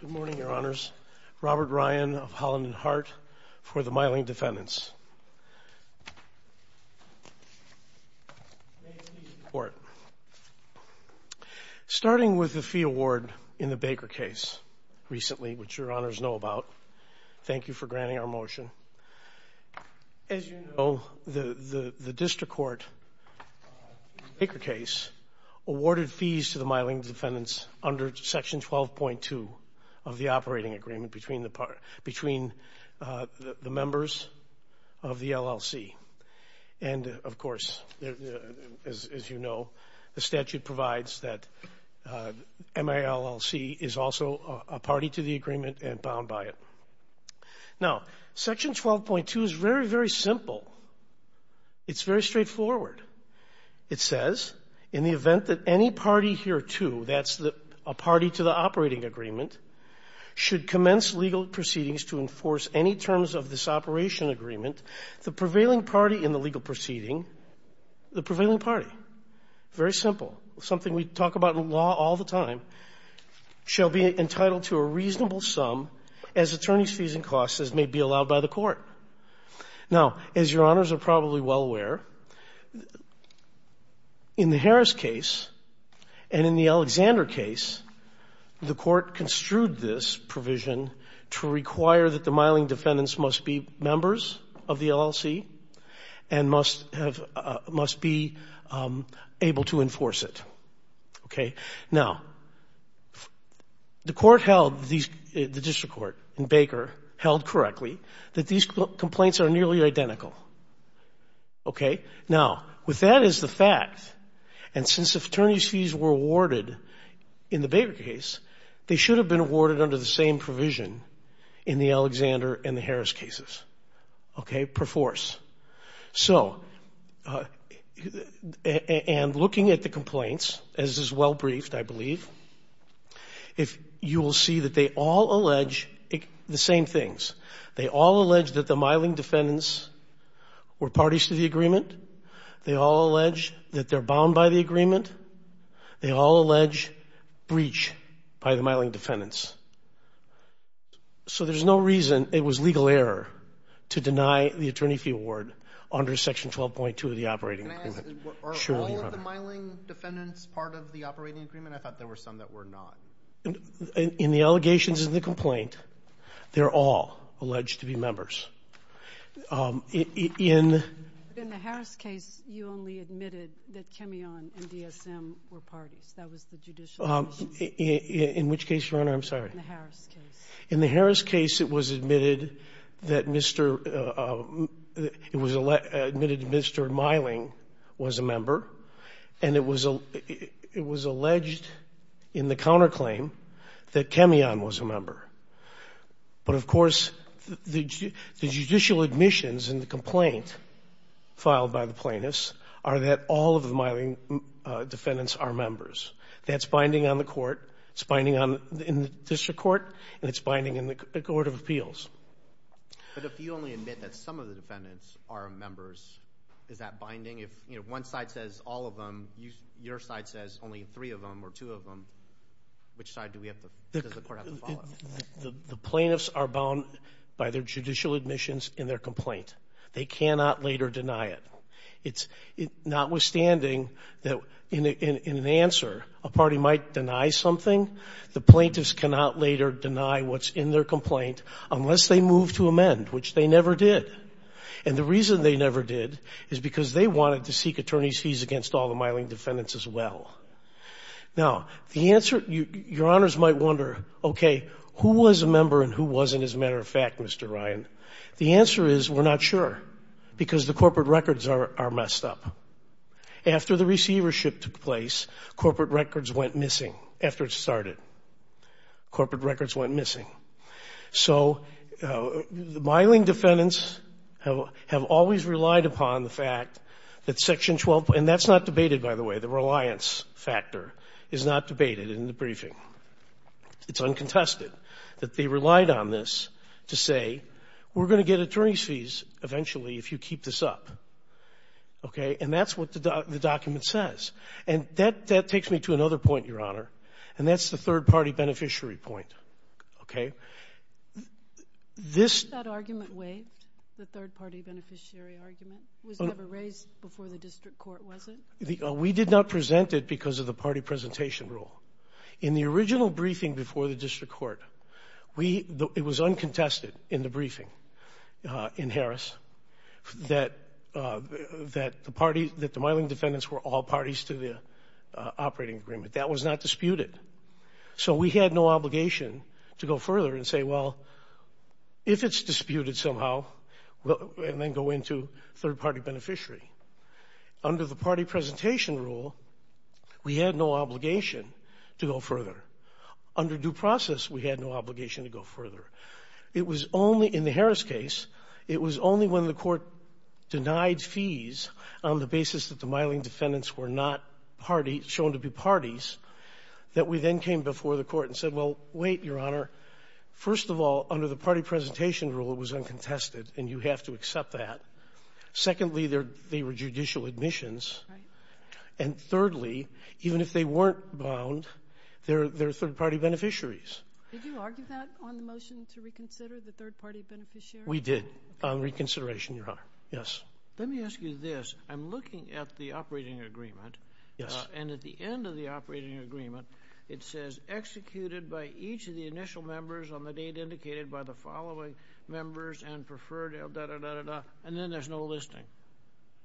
Good morning, Your Honors. Robert Ryan of Holland and Hart for the Meiling Defendants. Starting with the fee award in the Baker case recently, which Your Honors know about. Thank you for granting our motion. As you know, the district court in the Baker case awarded fees to the Meiling Defendants under section 12.2 of the operating agreement between the members of the LLC. And of course, as you know, the statute provides that MILLC is also a party to the agreement and bound by it. Now, section 12.2 is very, very simple. It's very straightforward. It says in the event that any party hereto, that's a party to the operating agreement, should commence legal proceedings to enforce any terms of this operation agreement, the prevailing party in the legal proceeding, the prevailing party, very simple, something we talk about in law all the time, shall be entitled to a reasonable sum as attorney's fees and costs as may be allowed by the court. Now, as Your Honors are probably well aware, in the Harris case and in the Alexander case, the court construed this provision to require that the Meiling Defendants must be the court held, the district court in Baker held correctly that these complaints are nearly identical. Okay? Now, with that as the fact, and since the attorney's fees were awarded in the Baker case, they should have been awarded under the same provision in the Alexander and the Harris cases. Okay? Per force. So, and looking at the complaints, as is well briefed, I believe, if you will see that they all allege the same things. They all allege that the Meiling Defendants were parties to the agreement. They all allege that they're bound by the agreement. They all allege breach by the Meiling Defendants. So, there's no reason it was legal error to deny the attorney fee award under Section 12.2 of the operating agreement. Are all of the Meiling Defendants part of the operating agreement? I thought there were some that were not. In the allegations of the complaint, they're all alleged to be members. In the Harris case, you only admitted that Kimeon and DSM were parties. That was the judicial decision. In which case, Your Honor? I'm sorry. In the Harris case. In the Harris case, it was admitted that Mr. it was admitted Mr. Meiling was a member, and it was it was alleged in the counterclaim that Kimeon was a member. But of course, the judicial admissions in the complaint filed by the plaintiffs are that all of the Meiling Defendants are members. That's binding on the court. It's binding on in the district court, and it's binding in the Court of Appeals. But if you only admit that some of the defendants are members, is that binding? If one side says all of them, your side says only three of them or two of them, which side do we have to, does the court have to follow? The plaintiffs are bound by their judicial admissions in their complaint. They cannot later deny it. It's notwithstanding that in an answer, a party might deny something. The plaintiffs cannot later deny what's in their complaint unless they move to amend, which they never did. And the reason they never did is because they wanted to seek attorney's fees against all the Meiling Defendants as well. Now, the answer, Your Honors might wonder, okay, who was a member and who wasn't, as a matter of fact, Mr. Ryan? The answer is we're not sure because the corporate records are messed up. After the receivership took place, corporate records went missing after it started. Corporate records went missing. So the Meiling Defendants have always relied upon the fact that Section 12, and that's not debated, by the way, the reliance factor is not debated in the briefing. It's uncontested that they relied on this to say, we're going to get attorney's fees eventually if you keep this up. Okay. And that's what the document says. And that takes me to another point, Your Honor, and that's the third party beneficiary point. Okay. This argument way, the third party beneficiary argument was never raised before the district court, was it? We did not present it because of the party presentation rule. In the original briefing before the district court, it was uncontested in the briefing in Harris that the Meiling Defendants were all parties to the operating agreement. That was not disputed. So we had no obligation to go further and say, well, if it's disputed somehow, and then go into third party beneficiary. Under the party presentation rule, we had no obligation to go further. Under due process, we had no obligation to go further. It was only in the Harris case, it was only when the court denied fees on the basis that the Meiling Defendants were not parties, shown to be parties, that we then came before the court and said, well, wait, Your Honor. First of all, under the party presentation rule, it was uncontested, and you have to accept that. Secondly, they were judicial admissions. And thirdly, even if they weren't bound, they're third party beneficiaries. Did you argue that on the motion to reconsider the third party beneficiary? We did. On reconsideration, Your Honor. Yes. Let me ask you this. I'm looking at the operating agreement. Yes. And at the end of the operating agreement, it says executed by each of the initial members on the date indicated by the following members and preferred, and then there's no listing.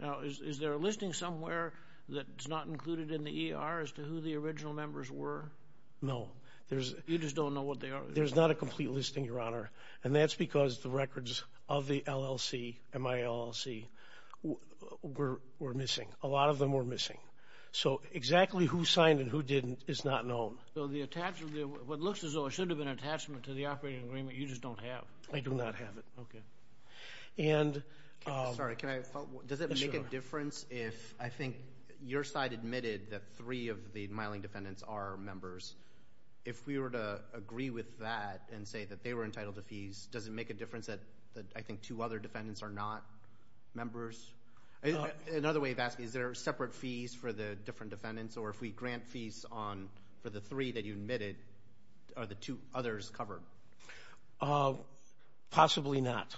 Now, is there a listing somewhere that's not included in the ER as to who the original members were? No. You just don't know what they are? There's not a complete listing, Your Honor. And that's because the records of the LLC, MILLC, were missing. A lot of them were missing. So exactly who signed and who didn't is not known. So what looks as though it should have been an attachment to the operating agreement, you just don't have? I do not have it. Okay. And... Sorry, can I follow? Does it make a difference if, I think, your side admitted that three of the Miling defendants are members? If we were to agree with that and say that they were entitled to fees, does it make a difference that, I think, two other defendants are not members? Another way of asking, is there separate fees for the different defendants? Or if we grant fees for the three that you admitted, are the two others covered? Possibly not.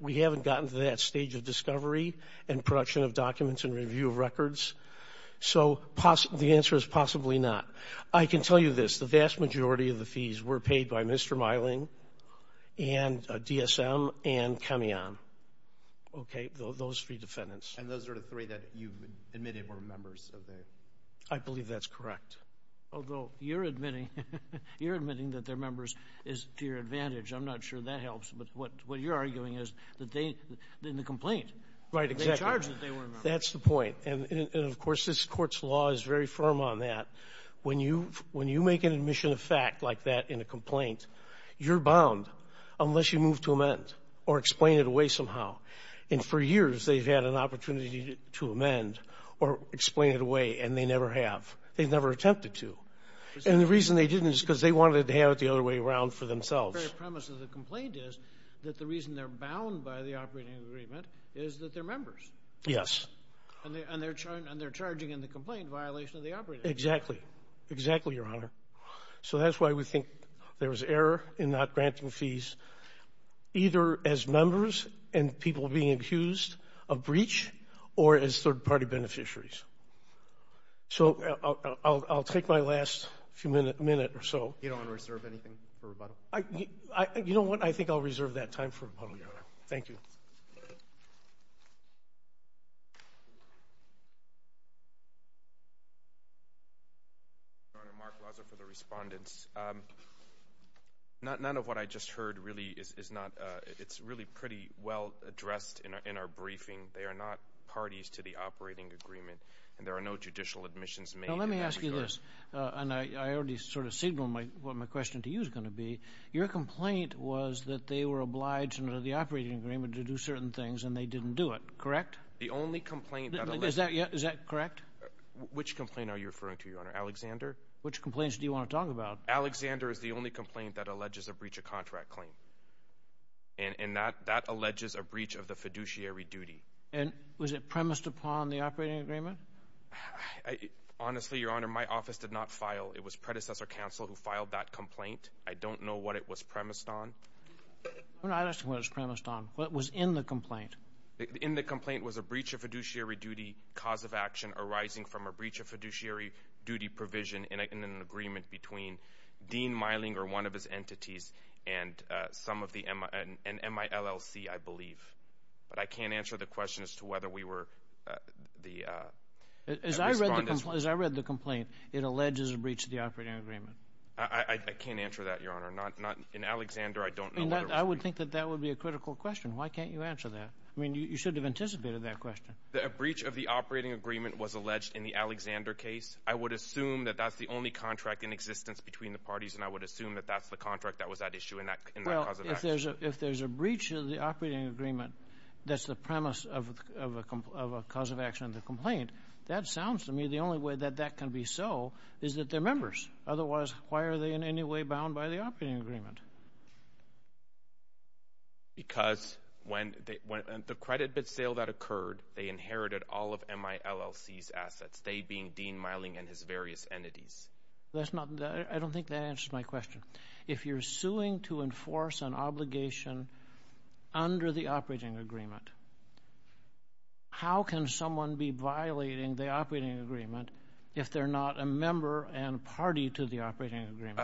We haven't gotten to that stage of discovery and production of documents and possibly not. I can tell you this, the vast majority of the fees were paid by Mr. Miling and DSM and Cameon. Okay, those three defendants. And those are the three that you admitted were members of the... I believe that's correct. Although you're admitting that they're members is to your advantage. I'm not sure that helps, but what you're arguing is that they, in the complaint, they charge that they were members. That's the point. And of course, this Court's law is very firm on that. When you make an admission of fact like that in a complaint, you're bound unless you move to amend or explain it away somehow. And for years, they've had an opportunity to amend or explain it away, and they never have. They've never attempted to. And the reason they didn't is because they wanted to have it the other way around for themselves. The very premise of the complaint is that the reason they're bound by the operating agreement is that they're members. Yes. And they're charging in the complaint violation of the operating agreement. Exactly. Exactly, Your Honor. So that's why we think there was error in not granting fees either as members and people being accused of breach or as third-party beneficiaries. So I'll take my last few minute or so. You don't want to reserve anything for rebuttal? You know what? I think I'll reserve that time for rebuttal, Your Honor. Thank you. Thank you, Your Honor. Mark Laza for the respondents. None of what I just heard really is not—it's really pretty well addressed in our briefing. They are not parties to the operating agreement, and there are no judicial admissions made. Now, let me ask you this, and I already sort of signaled what my question to you is going to be. Your complaint was that they were obliged under the operating agreement to do certain things, and they didn't do it, correct? The only complaint— Is that correct? Which complaint are you referring to, Your Honor? Alexander? Which complaints do you want to talk about? Alexander is the only complaint that alleges a breach of contract claim, and that alleges a breach of the fiduciary duty. And was it premised upon the operating agreement? Honestly, Your Honor, my office did not file. It was predecessor counsel who filed that complaint. I don't know what it was premised on. I'm not asking what it was premised on. What was in the complaint? In the complaint was a breach of fiduciary duty, cause of action arising from a breach of fiduciary duty provision in an agreement between Dean Meilinger, one of his entities, and some of the—and MILLC, I believe. But I can't answer the question as to whether we were the— As I read the complaint, it alleges a breach of the operating agreement. I can't answer that, Your Honor. In Alexander, I don't know what it was— I would think that that would be a critical question. Why can't you answer that? I mean, you should have anticipated that question. A breach of the operating agreement was alleged in the Alexander case. I would assume that that's the only contract in existence between the parties, and I would assume that that's the contract that was at issue in that cause of action. If there's a breach of the operating agreement, that's the premise of a cause of action in the complaint, that sounds to me the only way that that can be so is that they're members. Otherwise, why are they in any way bound by the operating agreement? Because when the credit bid sale that occurred, they inherited all of MILLC's assets, they being Dean Meilinger and his various entities. That's not—I don't think that answers my question. If you're suing to enforce an obligation under the operating agreement, how can someone be violating the operating agreement if they're not a member and party to the operating agreement?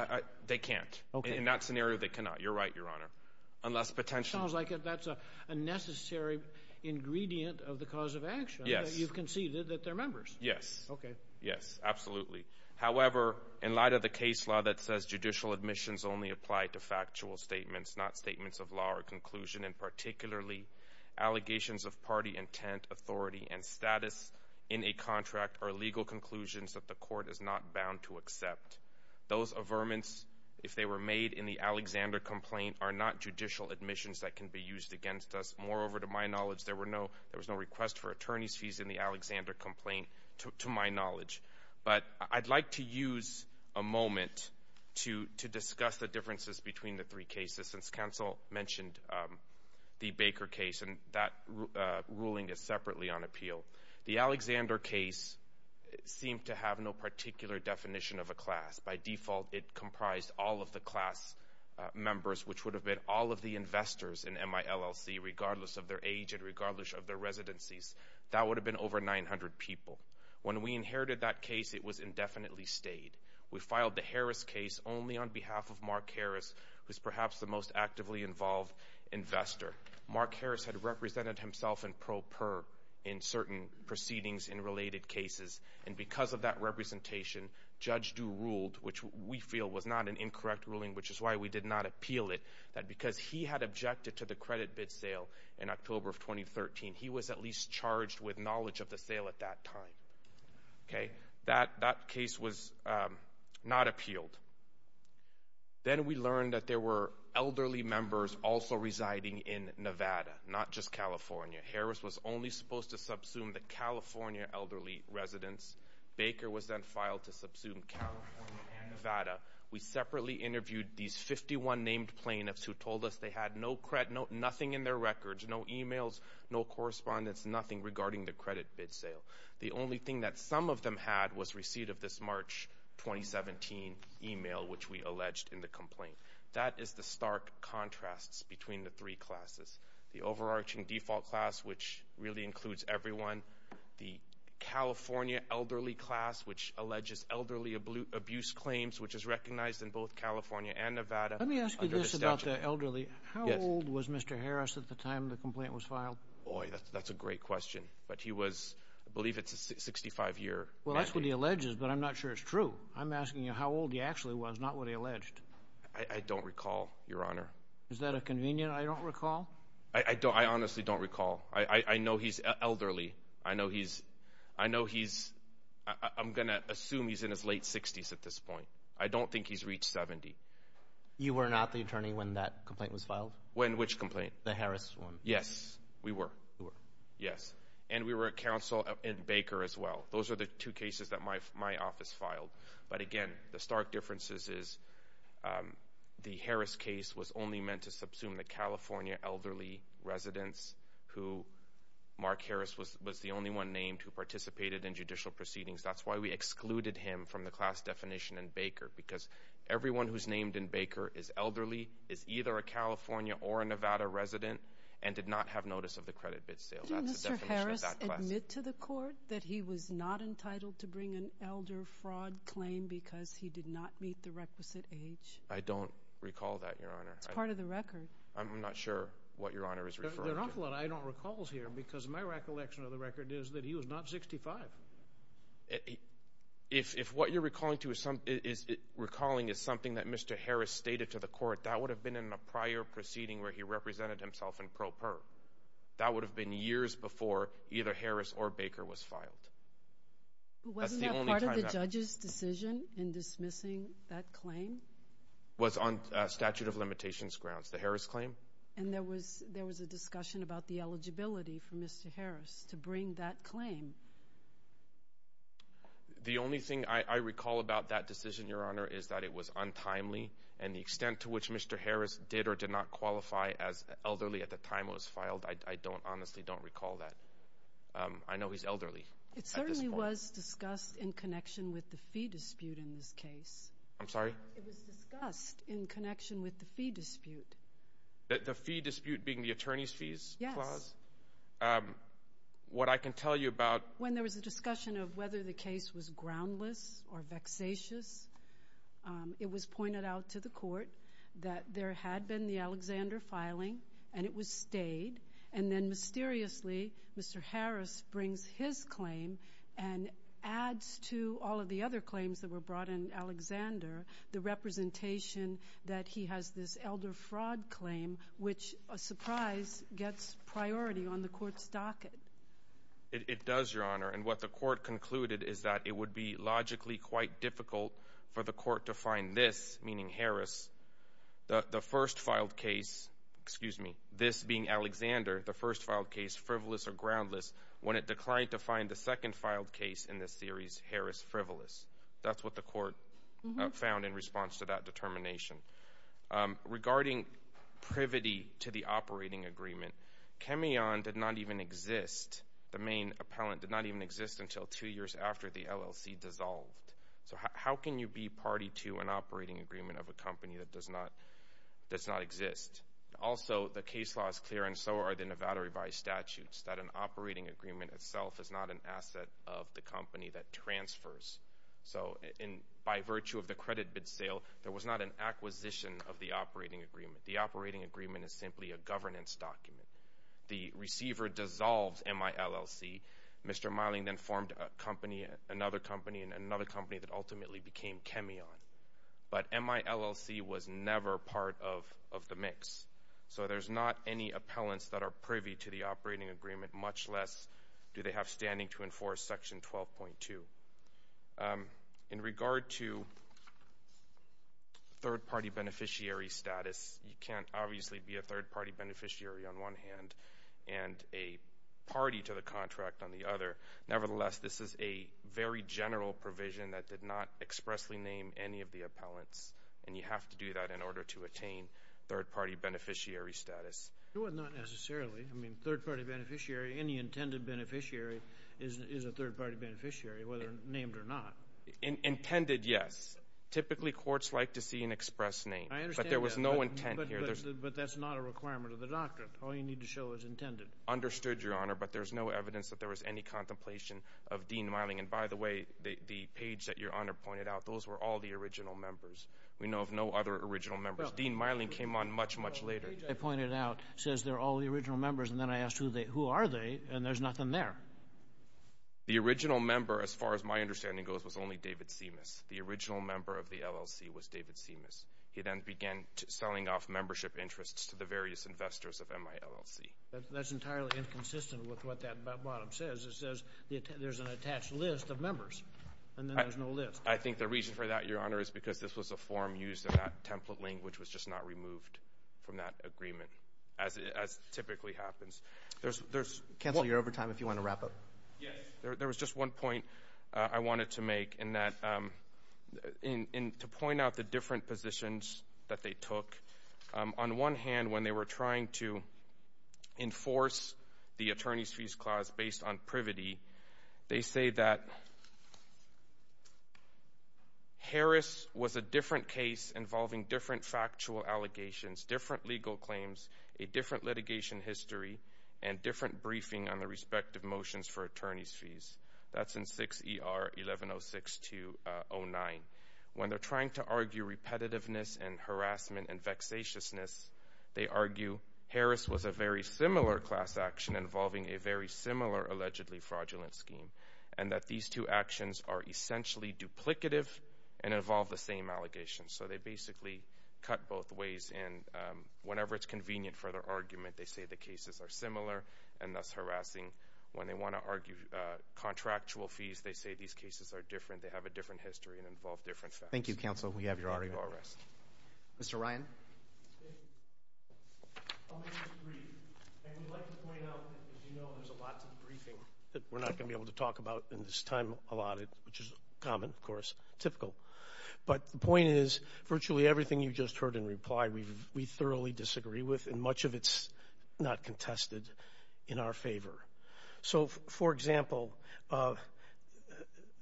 They can't. In that scenario, they cannot. You're right, Your Honor. Unless potentially— Sounds like that's a necessary ingredient of the cause of action. Yes. You've conceded that they're members. Yes. Okay. Yes, absolutely. However, in light of the case law that says judicial admissions only apply to factual statements, not statements of law or conclusion, and particularly allegations of party intent, authority, and status in a contract or legal conclusions that the court is not bound to accept, those averments, if they were made in the Alexander complaint, are not judicial admissions that can be used against us. Moreover, to my knowledge, there were no— there was no request for attorney's fees in the Alexander complaint, to my knowledge. But I'd like to use a moment to discuss the differences between the three cases. Since counsel mentioned the Baker case, and that ruling is separately on appeal, the Alexander case seemed to have no particular definition of a class. By default, it comprised all of the class members, which would have been all of the investors in MILLC, regardless of their age and regardless of their residencies. That would have been over 900 people. When we inherited that case, it was indefinitely stayed. We filed the Harris case only on behalf of Mark Harris, who's perhaps the most actively involved investor. Mark Harris had represented himself in pro per in certain proceedings in related cases, and because of that representation, Judge Due ruled, which we feel was not an incorrect ruling, which is why we did not appeal it, that because he had objected to the credit bid sale in October of 2013, he was at least charged with knowledge of the sale at that time. Okay? That case was not appealed. Then we learned that there were elderly members also residing in Nevada, not just California. Harris was only supposed to subsume the California elderly residents. Baker was then filed to subsume California and Nevada. We separately interviewed these 51 named plaintiffs who told us they had nothing in their records, no emails, no correspondence, nothing regarding the credit bid sale. The only thing that some of them had was receipt of this March 2017 email, which we alleged in the complaint. That is the stark contrasts between the three classes. The overarching default class, which really includes everyone, the California elderly class, which alleges elderly abuse claims, which is recognized in both California and Nevada. Let me ask you this about the elderly. How old was Mr. Harris at the time the complaint was filed? Boy, that's a great question, but he was, I believe it's a 65 year. Well, that's what he alleges, but I'm not sure it's true. I'm asking you how old he actually was, not what he alleged. I don't recall, Your Honor. Is that a convenient I don't recall? I don't, I honestly don't recall. I know he's elderly. I know he's, I know he's, I'm going to assume he's in his late 60s at this point. I don't think he's reached 70. You were not the attorney when that complaint was filed? When which complaint? The Harris one. Yes, we were. Yes. And we were at counsel in Baker as well. Those are the two cases that my my office filed. But again, the stark differences is the Harris case was only meant to subsume the California elderly residents who Mark Harris was was the only one named who participated in judicial proceedings. That's why we excluded him from the class definition in Baker, because everyone who's not have notice of the credit bid sale. That's the definition of that class. Did Mr. Harris admit to the court that he was not entitled to bring an elder fraud claim because he did not meet the requisite age? I don't recall that, Your Honor. It's part of the record. I'm not sure what Your Honor is referring to. There are a lot I don't recall here, because my recollection of the record is that he was not 65. If if what you're recalling to is something is recalling is something that Mr. Harris stated to the court that would have been in a prior proceeding where he represented himself and probe her. That would have been years before either Harris or Baker was filed. Wasn't that part of the judge's decision in dismissing that claim? Was on statute of limitations grounds. The Harris claim. And there was there was a discussion about the eligibility for Mr. Harris to bring that claim. The only thing I recall about that decision, Your Honor, is that it was untimely. And the extent to which Mr. Harris did or did not qualify as elderly at the time it was filed, I don't honestly don't recall that. I know he's elderly. It certainly was discussed in connection with the fee dispute in this case. I'm sorry. It was discussed in connection with the fee dispute. The fee dispute being the attorney's fees. Yes. What I can tell you about when there was a discussion of whether the case was groundless or vexatious. It was pointed out to the court that there had been the Alexander filing and it was stayed. And then mysteriously, Mr. Harris brings his claim and adds to all of the other claims that were brought in Alexander, the representation that he has this elder fraud claim, which a surprise gets priority on the court's docket. It does, Your Honor. And what the court concluded is that it would be logically quite difficult for the court to find this, meaning Harris, the first filed case, excuse me, this being Alexander, the first filed case frivolous or groundless when it declined to find the second filed case in this series, Harris frivolous. That's what the court found in response to that determination regarding privity to the operating agreement. Chemion did not even exist. The main appellant did not even exist until two years after the LLC dissolved. So how can you be party to an operating agreement of a company that does not exist? Also, the case law is clear and so are the Nevada revised statutes that an operating agreement itself is not an asset of the company that transfers. So by virtue of the credit bid sale, there was not an acquisition of the operating agreement. The operating agreement is simply a governance document. The receiver dissolves MILLC. Mr. Meiling then formed a company, another company, and another company that ultimately became Chemion. But MILLC was never part of the mix. So there's not any appellants that are privy to the operating agreement, much less do they have standing to enforce section 12.2. In regard to third-party beneficiary status, you can't obviously be a third-party beneficiary on one hand and a party to the contract on the other. Nevertheless, this is a very general provision that did not expressly name any of the appellants, and you have to do that in order to attain third-party beneficiary status. It would not necessarily. I mean, third-party beneficiary, any intended beneficiary is a third-party beneficiary, whether named or not. Intended, yes. Typically, courts like to see an express name. I understand that. But there was no intent here. But that's not a requirement of the doctrine. All you need to show is intended. Understood, Your Honor. But there's no evidence that there was any contemplation of Dean Meiling. And by the way, the page that Your Honor pointed out, those were all the original members. We know of no other original members. Dean Meiling came on much, much later. The page I pointed out says they're all the original members. And then I asked, who are they? And there's nothing there. The original member, as far as my understanding goes, was only David Simas. The original member of the LLC was David Simas. He then began selling off membership interests to the various investors of MI LLC. That's entirely inconsistent with what that bottom says. It says there's an attached list of members, and then there's no list. I think the reason for that, Your Honor, is because this was a form used, and that template language was just not removed from that agreement, as typically happens. Cancel your overtime if you want to wrap up. Yes, there was just one point I wanted to make, in that, to point out the different positions that they took. On one hand, when they were trying to enforce the attorney's fees clause based on privity, they say that Harris was a different case involving different factual allegations, different legal claims, a different litigation history, and different briefing on the respective motions for attorney's fees. That's in 6 ER 1106209. When they're trying to argue repetitiveness and harassment and vexatiousness, they argue Harris was a very similar class action involving a very similar allegedly fraudulent scheme, and that these two actions are essentially duplicative and involve the same allegations. They basically cut both ways, and whenever it's convenient for their argument, they say the cases are similar and thus harassing. When they want to argue contractual fees, they say these cases are different. They have a different history and involve different facts. Thank you, Counsel. We have your article. Mr. Ryan? I'll make a brief. I would like to point out, as you know, there's a lot of briefing that we're not going to be able to talk about in this time allotted, which is common, of course, typical. But the point is, virtually everything you just heard in reply, we thoroughly disagree with, and much of it's not contested in our favor. So, for example,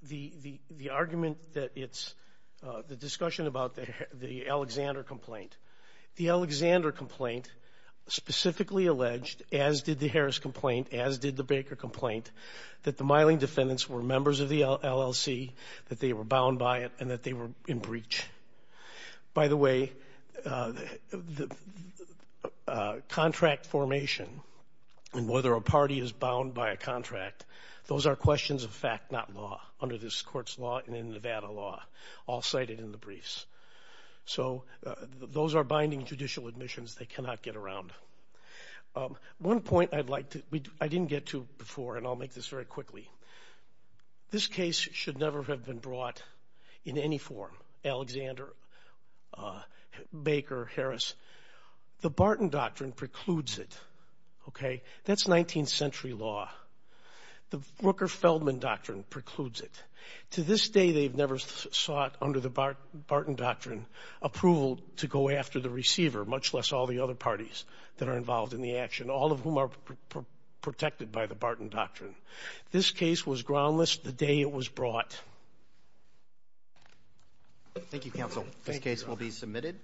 the argument that it's the discussion about the Alexander complaint. The Alexander complaint specifically alleged, as did the Harris complaint, as did the Baker complaint, that the Miling defendants were members of the LLC, that they were bound by it, that they were in breach. By the way, the contract formation and whether a party is bound by a contract, those are questions of fact, not law, under this court's law and in Nevada law, all cited in the briefs. So those are binding judicial admissions they cannot get around. One point I'd like to, I didn't get to before, and I'll make this very quickly. This case should never have been brought in any form, Alexander, Baker, Harris. The Barton Doctrine precludes it, okay? That's 19th century law. The Rooker-Feldman Doctrine precludes it. To this day, they've never sought, under the Barton Doctrine, approval to go after the receiver, much less all the other parties that are involved in the action, all of whom are protected by the Barton Doctrine. This case was groundless the day it was brought. Thank you, counsel. This case will be submitted.